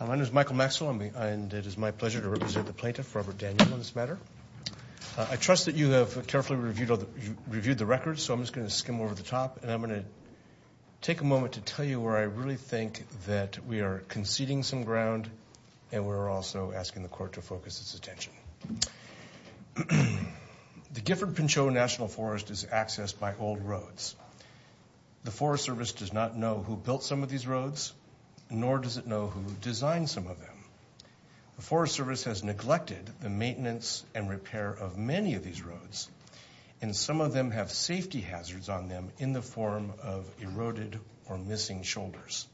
My name is Michael Maxwell, and it is my pleasure to represent the plaintiff, Robert Daniel, on this matter. I trust that you have carefully reviewed the records, so I'm just going to skim over the top, and I'm going to take a moment to tell you where I really think that we are conceding some ground, and we're also asking the court to focus its attention. The Gifford-Pinchot National Forest is accessed by old roads. The Forest Service does not know who built some of these roads, nor does it know who designed some of them. The Forest Service has neglected the maintenance and repair of many of these roads, and some of them have safety hazards on them in the form of eroded or missing shoulders.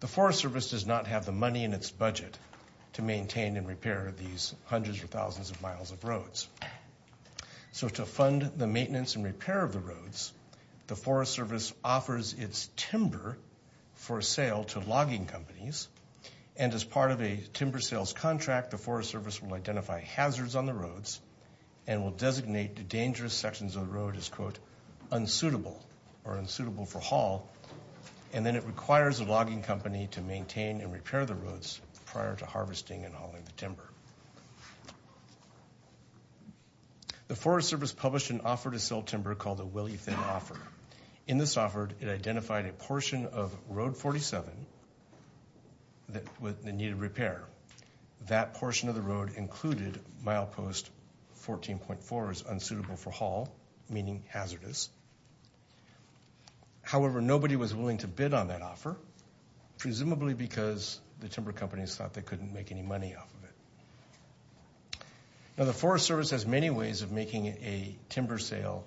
The Forest Service does not have the money in its budget to maintain and repair these hundreds or thousands of miles of roads. So to fund the maintenance and repair of the roads, the Forest Service offers its timber for sale to logging companies, and as part of a timber sales contract, the Forest Service will identify hazards on the roads and will designate dangerous sections of the road as, quote, unsuitable or unsuitable for haul, and then it requires the logging company to maintain and repair the roads prior to harvesting and hauling the timber. The Forest Service published an offer to sell timber called the Willie Thin Offer. In this offer, it identified a portion of Road 47 that needed repair. That portion of the road included Milepost 14.4 as unsuitable for haul, meaning hazardous. However, nobody was willing to bid on that offer, presumably because the timber company thought they couldn't make any money off of it. Now, the Forest Service has many ways of making a timber sale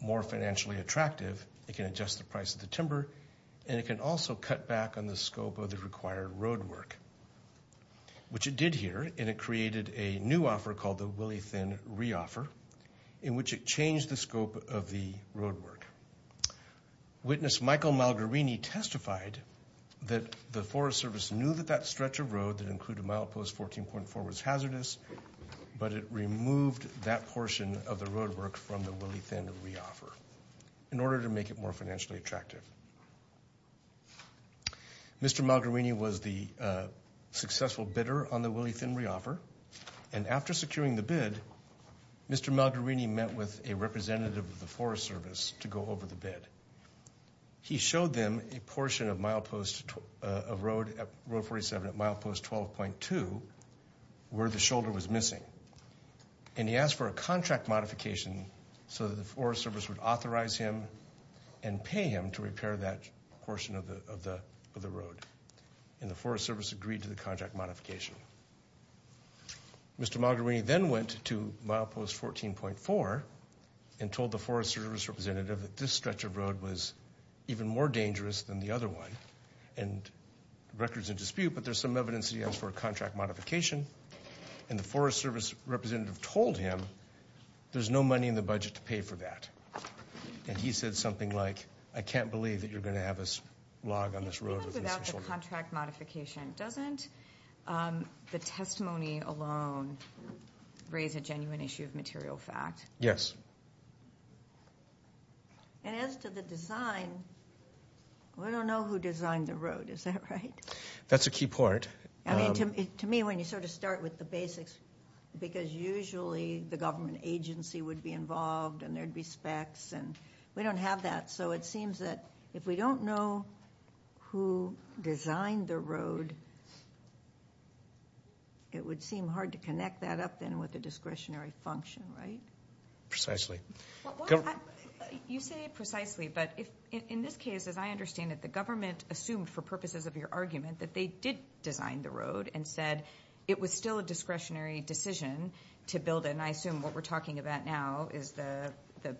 more financially attractive. It can adjust the price of the timber, and it can also cut back on the scope of the required road work, which it did here, and it created a new offer called the Willie Thin Reoffer, in which it changed the scope of the road work. Witness Michael Malgarini testified that the Forest Service knew that that stretch of road that included Milepost 14.4 was hazardous, but it removed that portion of the road work from the Willie Thin Reoffer in order to make it more financially attractive. Mr. Malgarini was the successful bidder on the Willie Thin Reoffer, and after securing the bid, Mr. Malgarini met with a representative of the Forest Service to go over the bid. He showed them a portion of Road 47 at Milepost 12.2 where the shoulder was missing, and he asked for a contract modification so that the Forest Service would authorize him and pay him to repair that portion of the road, and the Forest Service agreed to the contract modification. Mr. Malgarini then went to Milepost 14.4 and told the Forest Service representative that this stretch of road was even more dangerous than the other one, and the record's in dispute, but there's some evidence that he asked for a contract modification, and the Forest Service representative told him there's no money in the budget to pay for that, and he said something like, I can't believe that you're going to have us log on this road with the testimony alone raise a genuine issue of material fact. Yes. And as to the design, we don't know who designed the road, is that right? That's a key part. I mean, to me, when you sort of start with the basics, because usually the government agency would be involved, and there'd be specs, and we don't have that, so it seems that if we don't know who designed the road, it would seem hard to connect that up then with a discretionary function, right? Precisely. You say precisely, but in this case, as I understand it, the government assumed for purposes of your argument that they did design the road and said it was still a discretionary decision to build it, and I assume what we're talking about now is the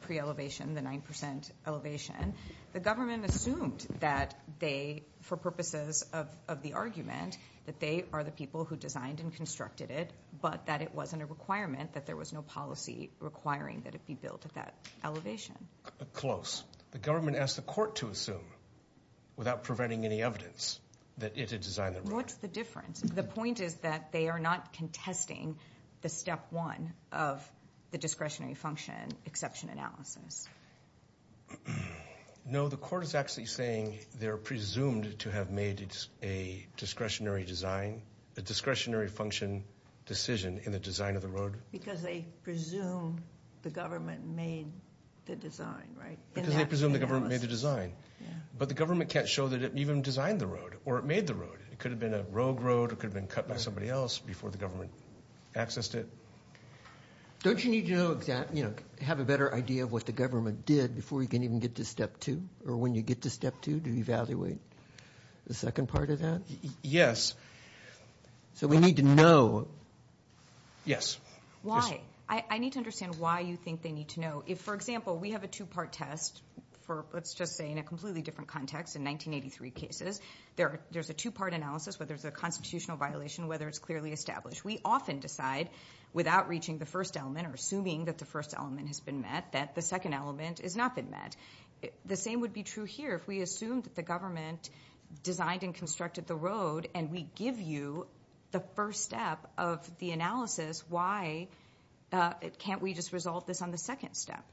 pre-elevation, the nine percent elevation. The government assumed that they, for purposes of the argument, that they are the people who designed and constructed it, but that it wasn't a requirement, that there was no policy requiring that it be built at that elevation. Close. The government asked the court to assume, without preventing any evidence, that it had designed the road. What's the difference? The point is that they are not contesting the step one of the discretionary function exception analysis. No, the court is actually saying they're presumed to have made a discretionary design, a discretionary function decision in the design of the road. Because they presume the government made the design, right? Because they presume the government made the design, but the government can't show that it even designed the road, or it made the road. It could have been a rogue road, it could have been cut by somebody else before the government accessed it. Don't you need to have a better idea of what the government did before you can even get to step two, or when you get to step two to evaluate the second part of that? Yes. So we need to know. Yes. Why? I need to understand why you think they need to know. For example, we have a two-part test for, let's just say, in a completely different context. In 1983 cases, there's a two-part analysis, whether it's a constitutional violation, whether it's clearly established. We often decide, without reaching the first element, or assuming that the first element has been met, that the second element has not been met. The same would be true here. If we assumed that the government designed and constructed the road, and we give you the first step of the analysis, why can't we just resolve this on the second step?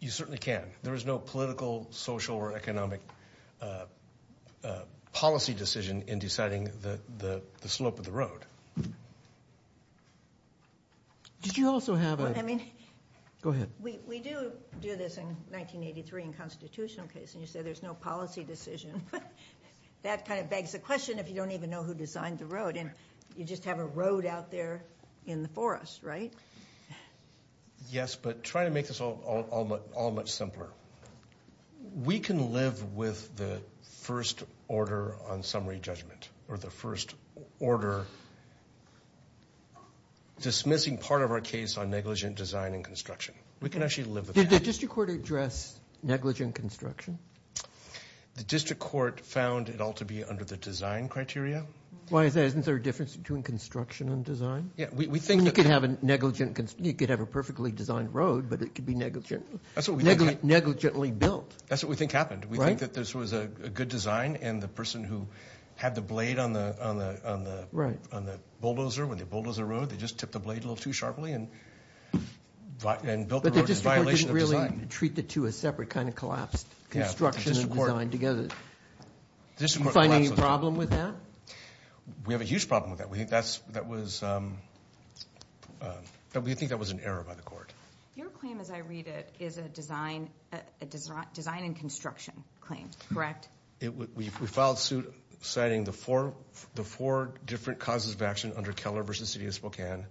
You certainly can. There is no political, social, or economic policy decision in deciding the slope of the road. Did you also have a... Go ahead. We do do this in 1983 in constitutional cases, and you say there's no policy decision. That kind of begs the question, if you don't even know who designed the road. You just have a road out there in the forest, right? Yes, but try to make this all much simpler. We can live with the first order on summary judgment, or the first order dismissing part of our case on negligent design and construction. Did the district court address negligent construction? The district court found it all to be under the design criteria. Why is that? Isn't there a difference between construction and design? You could have a perfectly designed road, but it could be negligently built. That's what we think happened. We think that this was a good design, and the person who had the blade on the bulldozer, when they bulldozed the road, they just tipped the blade a little too sharply and built the road in violation of design. But the district court didn't really treat the two as separate, kind of collapsed construction and design together. Did the district court find any problem with that? We have a huge problem with that. We think that was an error by the court. Your claim, as I read it, is a design and construction claim, correct? We filed suit citing the four different causes of action under Keller v. City of Spokane,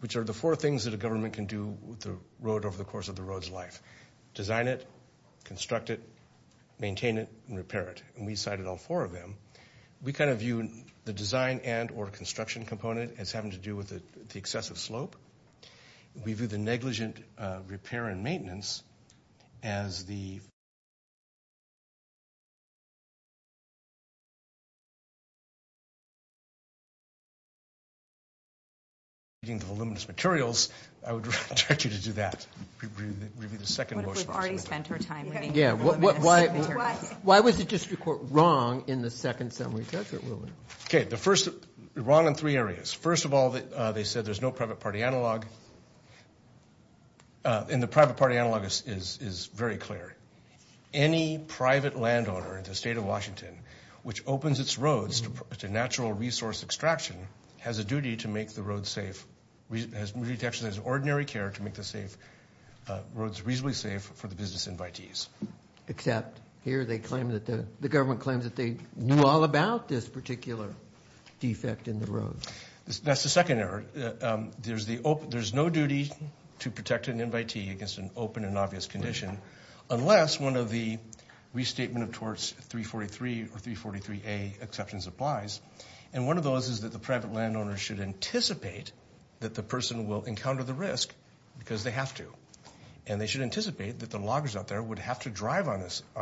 which are the four things that a government can do with the road over the course of the road's life. Design it, construct it, maintain it, and repair it. And we cited all four of them. We kind of view the design and or construction component as having to do with the excessive slope. We view the negligent repair and maintenance as the voluminous materials. I would direct you to do that. Review the second motion. But we've already spent our time reviewing the voluminous materials. Why was the district court wrong in the second summary judgment ruling? Okay, wrong in three areas. First of all, they said there's no private party analog. And the private party analog is very clear. Any private landowner in the state of Washington which opens its roads to natural resource extraction has a duty to make the road safe, has an ordinary care to make the roads reasonably safe for the business invitees. Except here the government claims that they knew all about this particular defect in the road. That's the second area. There's no duty to protect an invitee against an open and obvious condition unless one of the restatement of torts 343 or 343A exceptions applies. And one of those is that the private landowner should anticipate that the person will encounter the risk because they have to. And they should anticipate that the loggers out there would have to drive on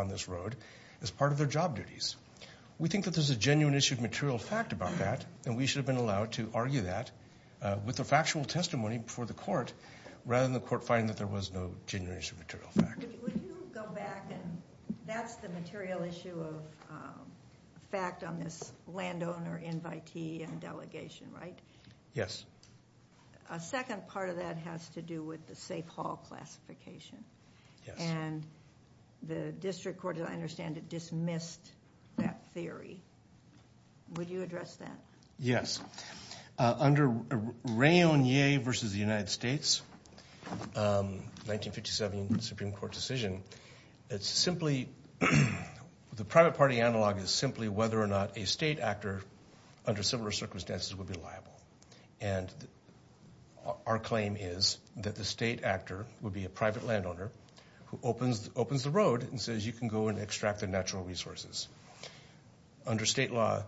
this road as part of their job duties. We think that there's a genuine issue of material fact about that and we should have been allowed to argue that with a factual testimony before the court rather than the court finding that there was no genuine issue of material fact. Would you go back and that's the material issue of fact on this landowner invitee and delegation, right? Yes. A second part of that has to do with the safe haul classification. And the district court, as I understand it, dismissed that theory. Would you address that? Yes. Under Rainier v. United States 1957 Supreme Court decision, it's simply the private party analog is simply whether or not a state actor under similar circumstances would be liable. And our claim is that the state actor would be a private landowner who opens the road and says you can go and extract the natural resources. Under state law,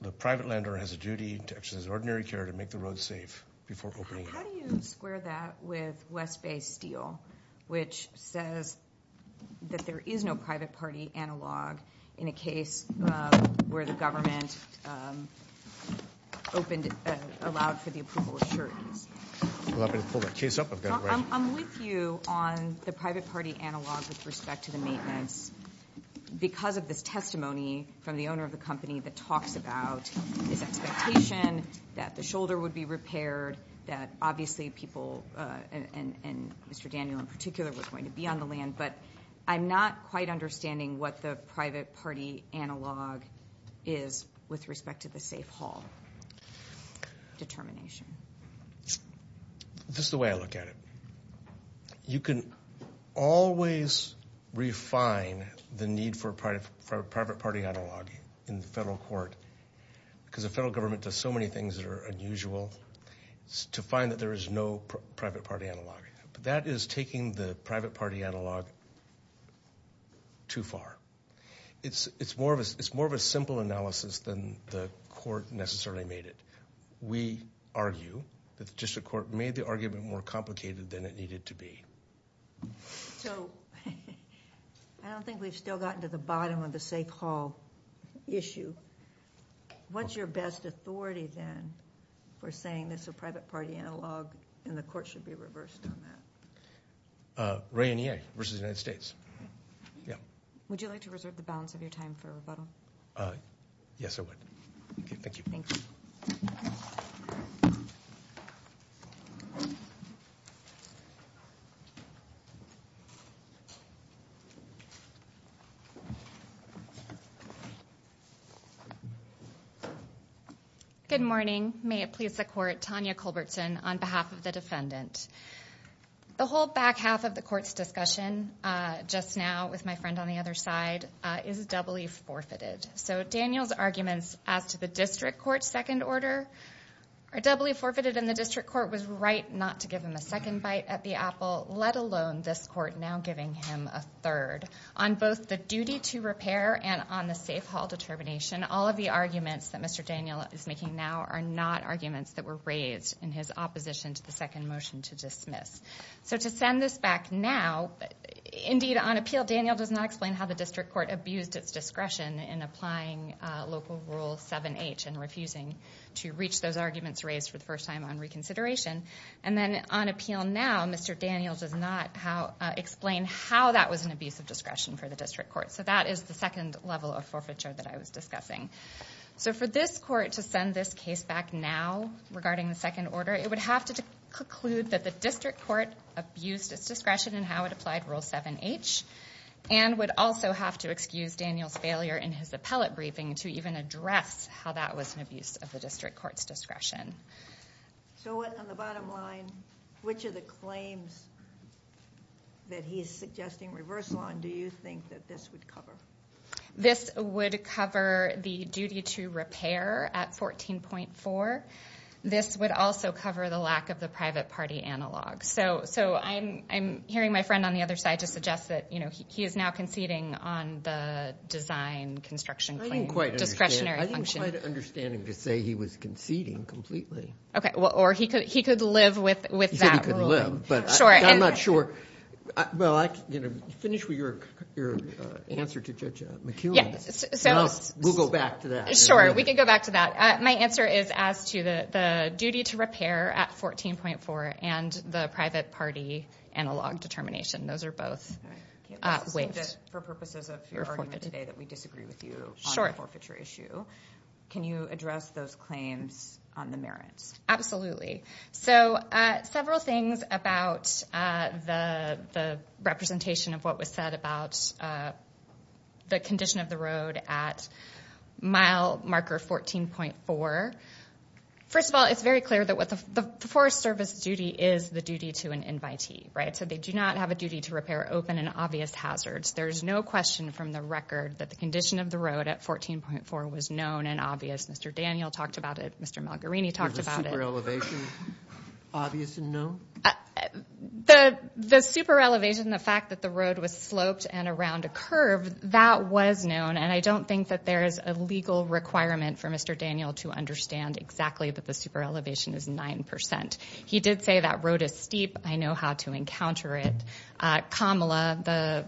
the private landowner has a duty to exercise ordinary care to make the road safe before opening it. How do you square that with West Bay Steel, which says that there is no private party analog in a case where the government opened and allowed for the approval of sureties? I'm with you on the private party analog with respect to the maintenance because of this testimony from the owner of the company that talks about his expectation that the shoulder would be repaired, that obviously people and Mr. Daniel in particular were going to be on the land, but I'm not quite understanding what the private party analog is with respect to the safe haul determination. This is the way I look at it. You can always refine the need for a private party analog in the federal court because the federal government does so many things that are taking the private party analog too far. It's more of a simple analysis than the court necessarily made it. We argue that the district court made the argument more complicated than it needed to be. I don't think we've still gotten to the bottom of the safe haul issue. What's your best authority then for saying this is a private party analog and the court should be reversed on that? Ray and EA versus the United States. Would you like to reserve the balance of your time for rebuttal? Yes I would. Thank you. Thank you. Good morning. May it please the court, Tanya Culbertson on behalf of the defendant. The whole back half of the court's discussion just now with my friend on the other side is doubly forfeited. So Daniel's arguments as to the district court's second order are doubly forfeited and the district court was right not to give him a second bite at the apple, let alone this court now giving him a third on both the duty to repair and on the safe haul determination. All of the arguments that Mr. Daniel is making now are not arguments that were raised in his opposition to the second motion to dismiss. So to send this back now, indeed on appeal Daniel does not explain how the district court abused its discretion in applying local rule 7H and refusing to reach those arguments raised for the first time on reconsideration. And then on appeal now Mr. Daniel does not explain how that was an abuse of discretion for the district court. So that is the second level of forfeiture that I was discussing. So for this court to send this case back now regarding the second order it would have to conclude that the district court abused its discretion in how it applied rule 7H and would also have to excuse Daniel's failure in his appellate briefing to even address how that was an abuse of the district court's discretion. So on the bottom line, which of the claims that he is suggesting reversal on do you think that this would cover? This would cover the duty to repair at 14.4. This would also cover the lack of the private party analog. So I'm hearing my friend on the other side just suggest that he is now conceding on the design construction discretionary function. I didn't quite understand him to say he was conceding completely. OK. Or he could live with that ruling. He said he could live. But I'm not sure. Well, finish with your answer to Judge McEwen. We'll go back to that. Sure. We can go back to that. My answer is as to the duty to repair at 14.4 and the private party analog determination. Those are both waived. For purposes of your argument today that we disagree with you on the forfeiture issue, can you address those claims on the merits? Absolutely. So several things about the representation of what was said about the condition of the road at mile marker 14.4. First of all, it's very clear that the Forest Service duty is the duty to an invitee. Right. So they do not have a duty to repair open and obvious hazards. There is no question from the record that the condition of the road at 14.4 was known and obvious. Mr. Daniel talked about it. Mr. Malgarini talked about it. Elevation. No. The super elevation, the fact that the road was sloped and around a curve that was known. And I don't think that there is a legal requirement for Mr. Daniel to understand exactly that the super elevation is 9 percent. He did say that road is steep. I know how to encounter it. Kamala,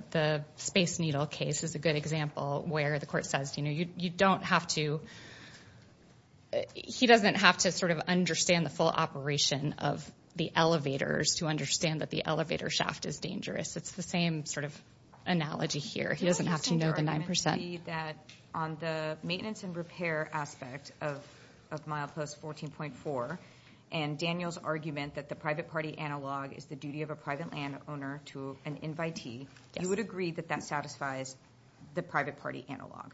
the space needle case is a good example where the court says you don't have to, he doesn't have to sort of understand the full operation of the elevators to understand that the elevator shaft is dangerous. It's the same sort of analogy here. He doesn't have to know the 9 percent. On the maintenance and repair aspect of mile post 14.4 and Daniel's argument that the private party analog is the duty of a private land owner to an invitee, you would agree that that satisfies the private party analog?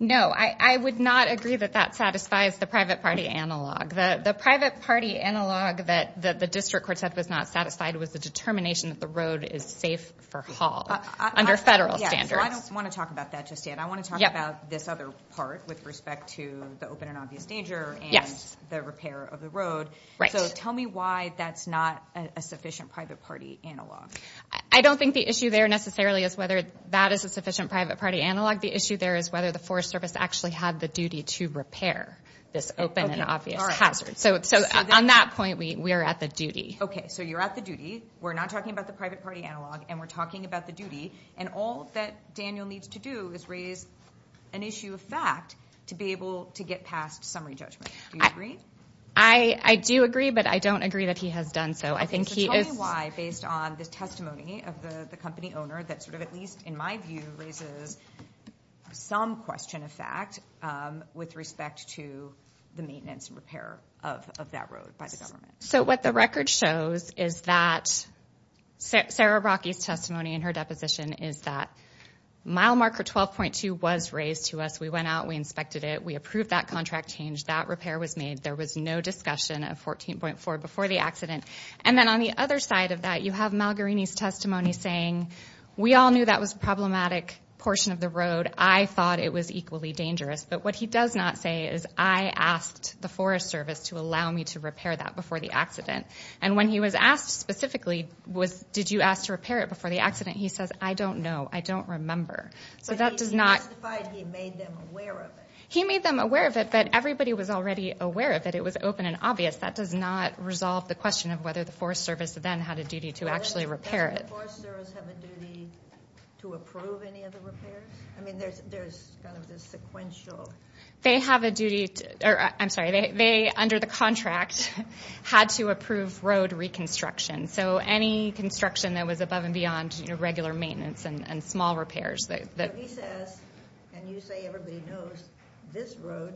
No. I would not agree that that satisfies the private party analog. The private party analog that the district court said was not satisfied was the determination that the road is safe for haul under federal standards. I don't want to talk about that just yet. I want to talk about this other part with respect to the open and obvious danger and the repair of the road. Tell me why that's not a sufficient private party analog. I don't think the issue there necessarily is whether that is a sufficient private party analog. The issue there is whether the Forest Service actually had the duty to repair this open and obvious hazard. On that point, we are at the duty. You're at the duty. We're not talking about the private party analog and we're talking about the duty. All that Daniel needs to do is raise an issue of fact to be able to get past summary judgment. Do you agree? I do agree, but I don't agree that he has done so. Tell me why, based on the testimony of the company owner that, at least in my view, raises some question of fact with respect to the maintenance and repair of that road by the government. What the record shows is that Sarah Brockie's testimony in her deposition is that mile marker 12.2 was raised to us. We went out. We inspected it. We approved that contract change. That repair was made. There was no discussion of 14.4 before the accident. Then on the other side of that, you have Malgorini's testimony saying we all knew that was a problematic portion of the road. I thought it was equally dangerous. What he does not say is I asked the Forest Service to allow me to repair that before the accident. When he was asked specifically, did you ask to repair it before the accident? He says, I don't know. I don't remember. He made them aware of it, but everybody was already aware of it. It was open and obvious. That does not resolve the question of whether the Forest Service then had a duty to actually repair it. Does the Forest Service have a duty to approve any of the repairs? They, under the contract, had to approve road reconstruction. Any construction that was above and beyond regular maintenance and small repairs. He says, and you say everybody knows, this road,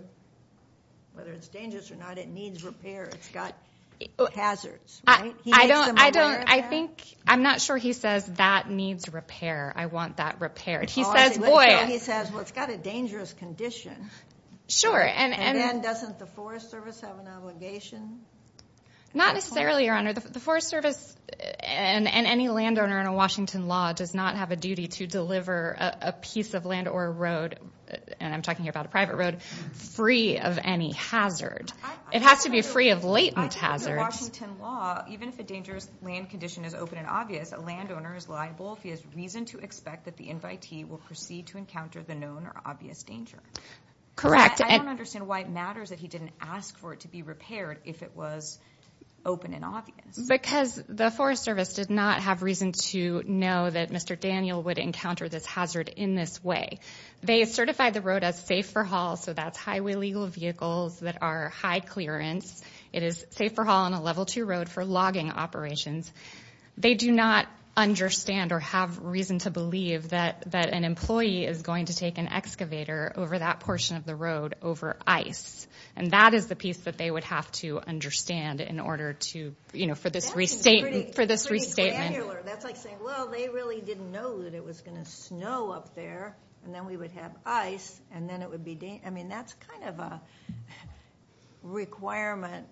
whether it's dangerous or not, it needs repair. It's got hazards. I'm not sure he says that needs repair. I want that repaired. He says, well, it's got a dangerous condition. Doesn't the Forest Service have an obligation? Not necessarily, Your Honor. The Forest Service and any landowner under Washington law does not have a duty to deliver a piece of land or road, and I'm talking about a private road, free of any hazard. It has to be free of latent hazards. Correct. Because the Forest Service did not have reason to know that Mr. Daniel would encounter this hazard in this way. It is safe for haul on a level two road for logging operations. They do not understand or have reason to believe that an employee is going to take an excavator over that portion of the road over ice, and that is the piece that they would have to understand in order to, you know, for this restatement. That's pretty granular. That's like saying, well, they really didn't know that it was going to snow up there, and then we would have ice, and then it would be dangerous. I mean, that's kind of a requirement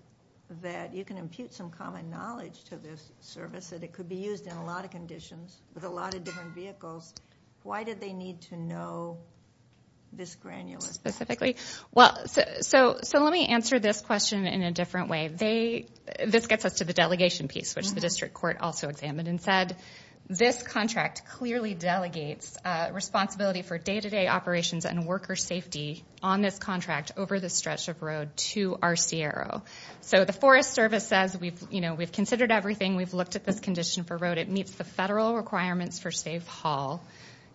that you can impute some common knowledge to this service that it could be used in a lot of conditions with a lot of different vehicles. Why did they need to know this granular specifically? Well, so let me answer this question in a different way. This gets us to the delegation piece, which the district court also examined and said, this contract clearly delegates responsibility for day-to-day operations and worker safety on this contract over the stretch of road to our CRO. So the Forest Service says, you know, we've considered everything. We've looked at this condition for road. It meets the federal requirements for safe haul.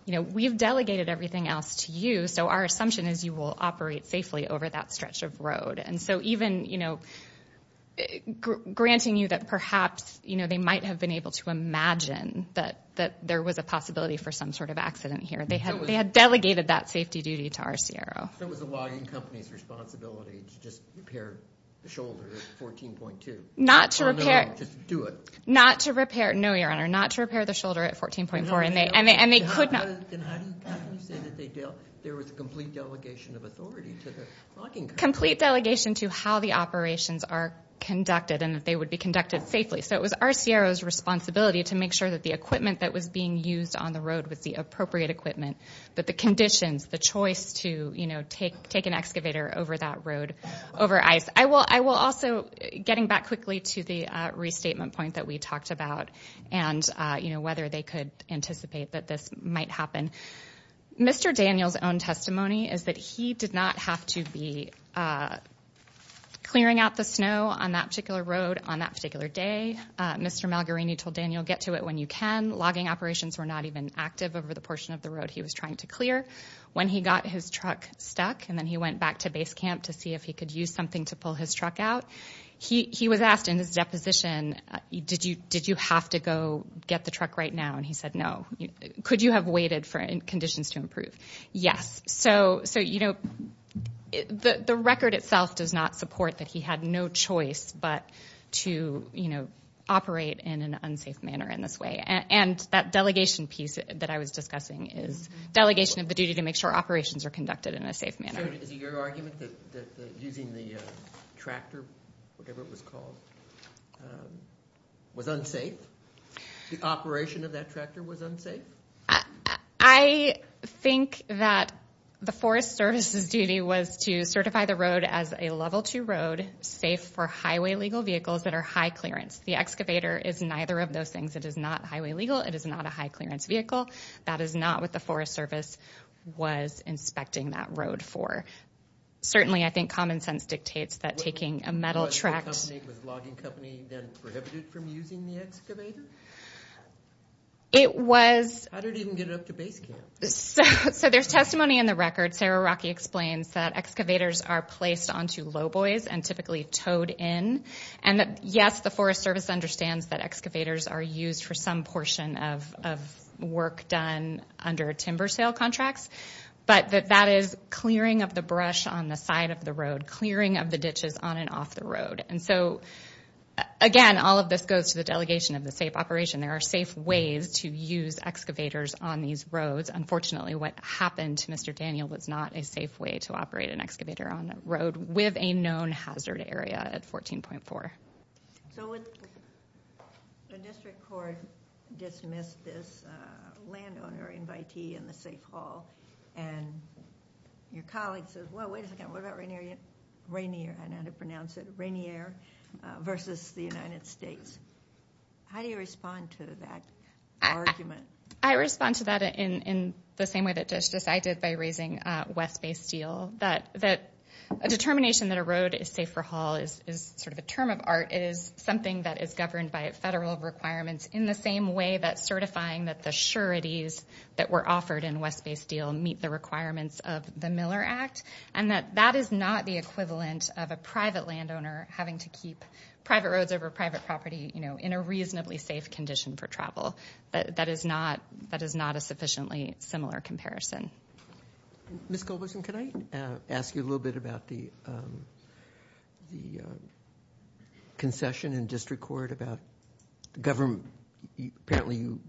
You know, we've delegated everything else to you, so our assumption is you will operate safely over that stretch of road, and so even, you know, granting you that perhaps, you know, they might have been able to imagine that there was a possibility for some sort of accident here. They had delegated that safety duty to our CRO. So it was the logging company's responsibility to just repair the shoulder at 14.2. Not to repair. Just do it. Not to repair. No, Your Honor, not to repair the shoulder at 14.4, and they could not. Then how do you say that there was a complete delegation of authority to the logging company? Complete delegation to how the operations are conducted and that they would be conducted safely. So it was our CRO's responsibility to make sure that the equipment that was being used on the road was the appropriate equipment, that the conditions, the choice to, you know, take an excavator over that road, over ice. I will also, getting back quickly to the restatement point that we talked about and, you know, whether they could anticipate that this might happen. Mr. Daniel's own testimony is that he did not have to be clearing out the snow on that particular road on that particular day. Mr. Malgorini told Daniel, get to it when you can. Logging operations were not even active over the portion of the road he was trying to clear. When he got his truck stuck and then he went back to base camp to see if he could use something to pull his truck out, he was asked in his deposition, did you have to go get the truck right now? And he said, no. Could you have waited for conditions to improve? Yes. So, you know, the record itself does not support that he had no choice but to, you know, operate in an unsafe manner in this way. And that delegation piece that I was discussing is delegation of the duty to make sure operations are conducted in a safe manner. Is it your argument that using the tractor, whatever it was called, was unsafe? The operation of that tractor was unsafe? I think that the Forest Service's duty was to certify the road as a level two road, safe for highway legal vehicles that are high clearance. The excavator is neither of those things. It is not highway legal. It is not a high clearance vehicle. That is not what the Forest Service was inspecting that road for. Certainly, I think common sense dictates that taking a metal tractor— Was the logging company then prohibited from using the excavator? It was— How did it even get it up to base camp? So there's testimony in the record. Sarah Rocky explains that excavators are placed onto low buoys and typically towed in. And that, yes, the Forest Service understands that excavators are used for some portion of work done under timber sale contracts, but that that is clearing of the brush on the side of the road, clearing of the ditches on and off the road. And so, again, all of this goes to the delegation of the safe operation. There are safe ways to use excavators on these roads. Unfortunately, what happened to Mr. Daniel was not a safe way to operate an excavator on the road with a known hazard area at 14.4. So when the district court dismissed this landowner invitee in the safe hall and your colleague says, well, wait a second, what about Rainier— I don't know how to pronounce it—Rainier versus the United States, how do you respond to that argument? I respond to that in the same way that Judge Desai did by raising West Bay Steel, that a determination that a road is safe for haul is sort of a term of art. It is something that is governed by federal requirements in the same way that certifying that the sureties that were offered in West Bay Steel meet the requirements of the Miller Act and that that is not the equivalent of a private landowner having to keep private roads over private property in a reasonably safe condition for travel. That is not a sufficiently similar comparison. Ms. Culbertson, can I ask you a little bit about the concession in district court about the government— apparently you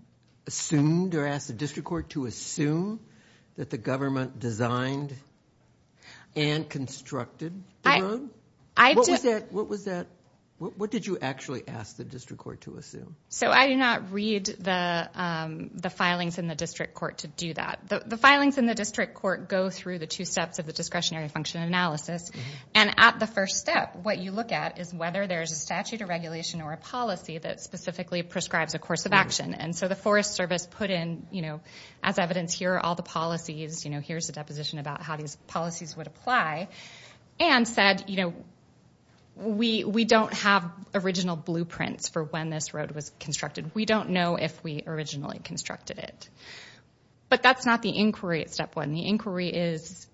assumed or asked the district court to assume that the government designed and constructed the road? What was that—what did you actually ask the district court to assume? So I do not read the filings in the district court to do that. The filings in the district court go through the two steps of the discretionary function analysis. And at the first step, what you look at is whether there is a statute or regulation or a policy that specifically prescribes a course of action. And so the Forest Service put in, you know, as evidence here are all the policies, you know, here is a deposition about how these policies would apply, and said, you know, we do not have original blueprints for when this road was constructed. We do not know if we originally constructed it. But that is not the inquiry at step one. The inquiry is,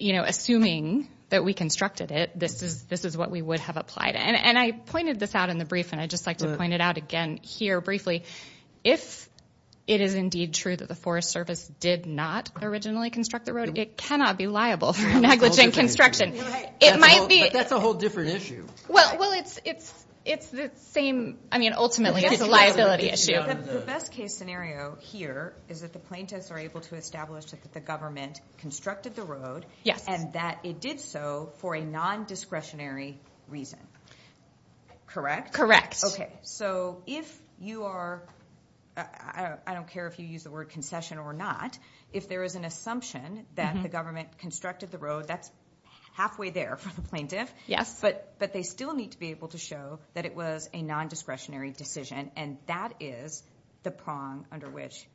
you know, assuming that we constructed it, this is what we would have applied. And I pointed this out in the brief, and I would just like to point it out again here briefly. If it is indeed true that the Forest Service did not originally construct the road, it cannot be liable for negligent construction. It might be— But that is a whole different issue. Well, it is the same—I mean, ultimately it is a liability issue. The best case scenario here is that the plaintiffs are able to establish that the government constructed the road and that it did so for a non-discretionary reason. Okay. So if you are—I don't care if you use the word concession or not. If there is an assumption that the government constructed the road, that's halfway there for the plaintiff. Yes. But they still need to be able to show that it was a non-discretionary decision, and that is the prong under which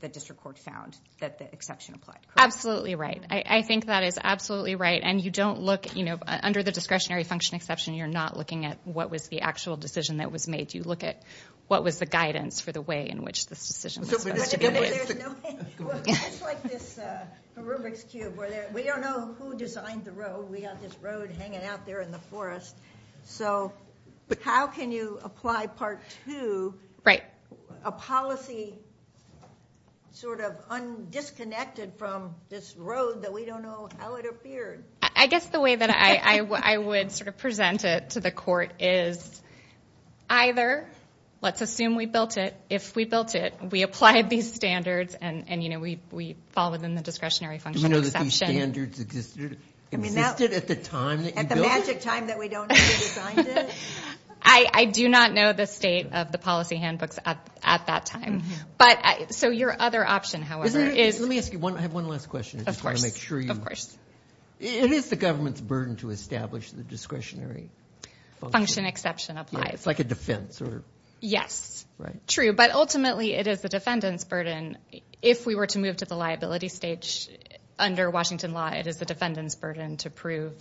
the district court found that the exception applied. Absolutely right. I think that is absolutely right. And you don't look—you know, under the discretionary function exception, you're not looking at what was the actual decision that was made. You look at what was the guidance for the way in which this decision was supposed to be made. It's like this Rubik's Cube. We don't know who designed the road. We have this road hanging out there in the forest. So how can you apply Part 2, a policy sort of undisconnected from this road that we don't know how it appeared? I guess the way that I would sort of present it to the court is either let's assume we built it. If we built it, we applied these standards and, you know, we followed in the discretionary function exception. Do you know that these standards existed at the time that you built it? I do not know the state of the policy handbooks at that time. So your other option, however, is— Let me ask you one last question. Of course. I just want to make sure you— And is the government's burden to establish the discretionary function? Function exception applies. It's like a defense or— Yes. Right. True, but ultimately it is the defendant's burden. If we were to move to the liability stage under Washington law, it is the defendant's burden to prove,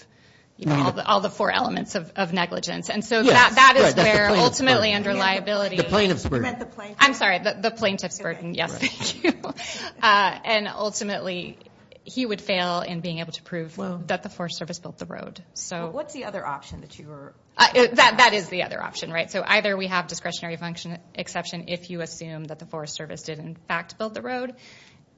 you know, all the four elements of negligence. And so that is where ultimately under liability— The plaintiff's burden. You meant the plaintiff. I'm sorry. The plaintiff's burden. Yes. Thank you. And ultimately he would fail in being able to prove that the Forest Service built the road. So what's the other option that you were— That is the other option, right? So either we have discretionary function exception if you assume that the Forest Service did in fact build the road.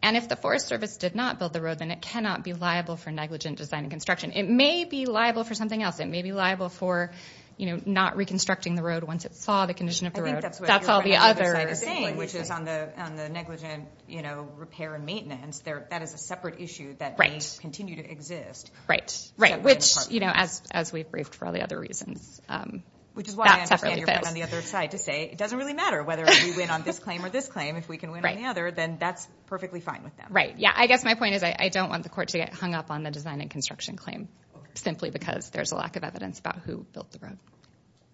And if the Forest Service did not build the road, then it cannot be liable for negligent design and construction. It may be liable for something else. It may be liable for, you know, not reconstructing the road once it saw the condition of the road. I think that's what you're on the other side of saying, which is on the negligent, you know, repair and maintenance. That is a separate issue that may continue to exist. Right. Which, you know, as we've briefed for all the other reasons, that separately fails. Which is why I understand you're on the other side to say it doesn't really matter whether we win on this claim or this claim. If we can win on the other, then that's perfectly fine with them. Yeah, I guess my point is I don't want the court to get hung up on the design and construction claim simply because there's a lack of evidence about who built the road.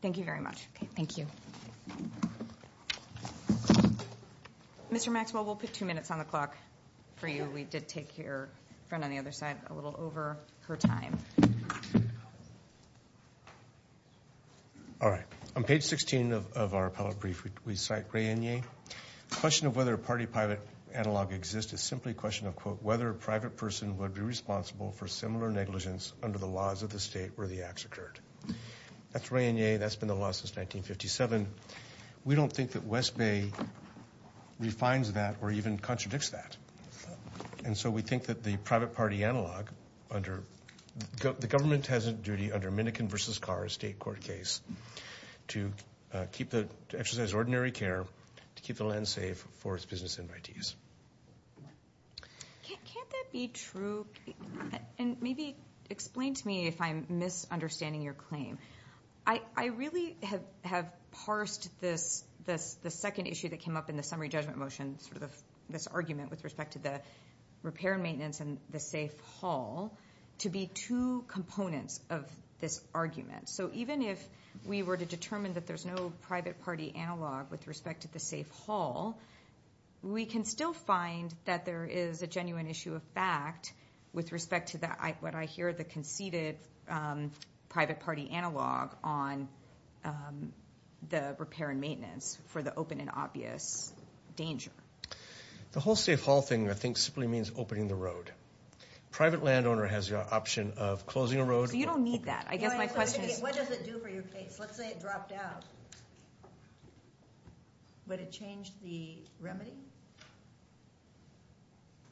Thank you very much. Thank you. Mr. Maxwell, we'll put two minutes on the clock for you. We did take your friend on the other side a little over her time. All right. On page 16 of our appellate brief, we cite Ray Enyé. The question of whether a party-private analog exists is simply a question of, quote, whether a private person would be responsible for similar negligence under the laws of the state where the acts occurred. That's Ray Enyé. That's been the law since 1957. We don't think that West Bay refines that or even contradicts that. And so we think that the private-party analog under the government has a duty under Minnickin v. Carr, a state court case, to exercise ordinary care to keep the land safe for its business invitees. Can't that be true? And maybe explain to me if I'm misunderstanding your claim. I really have parsed this, the second issue that came up in the summary judgment motion, sort of this argument with respect to the repair and maintenance and the safe haul to be two components of this argument. So even if we were to determine that there's no private-party analog with respect to the safe haul, we can still find that there is a genuine issue of fact with respect to what I hear, the conceded private-party analog on the repair and maintenance for the open and obvious danger. The whole safe haul thing, I think, simply means opening the road. Private landowner has the option of closing a road. So you don't need that. I guess my question is… What does it do for your case? Let's say it dropped out. Would it change the remedy?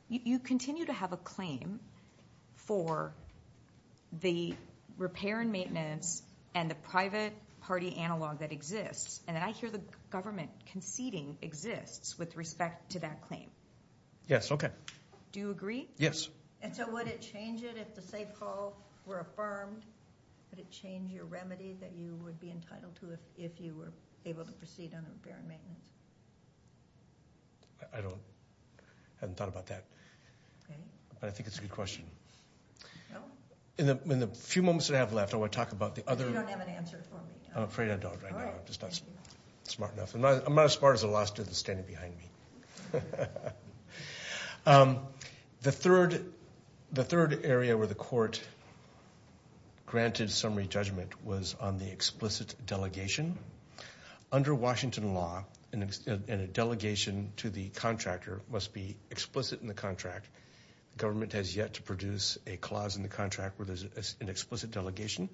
You continue to have a claim for the repair and maintenance and the private-party analog that exists. And I hear the government conceding exists with respect to that claim. Yes, okay. Do you agree? Yes. And so would it change it if the safe haul were affirmed? Would it change your remedy that you would be entitled to if you were able to proceed on the repair and maintenance? I haven't thought about that. But I think it's a good question. In the few moments that I have left, I want to talk about the other… You don't have an answer for me. I'm afraid I don't right now. I'm just not smart enough. I'm not as smart as the last two that are standing behind me. The third area where the court granted summary judgment was on the explicit delegation. Under Washington law, a delegation to the contractor must be explicit in the contract. The government has yet to produce a clause in the contract where there's an explicit delegation.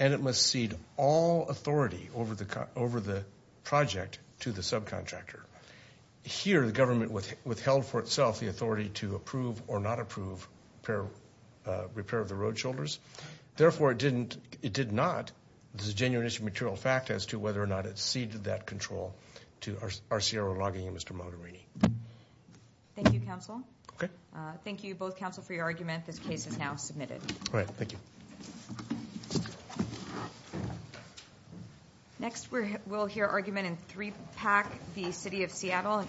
And it must cede all authority over the project to the subcontractor. Here, the government withheld for itself the authority to approve or not approve repair of the road shoulders. Therefore, it did not. This is a genuine issue of material fact as to whether or not it ceded that control to RCRO Logging and Mr. Mogherini. Thank you, counsel. Okay. Thank you, both counsel, for your argument. This case is now submitted. All right, thank you. Next, we'll hear argument in three-pack, the city of Seattle.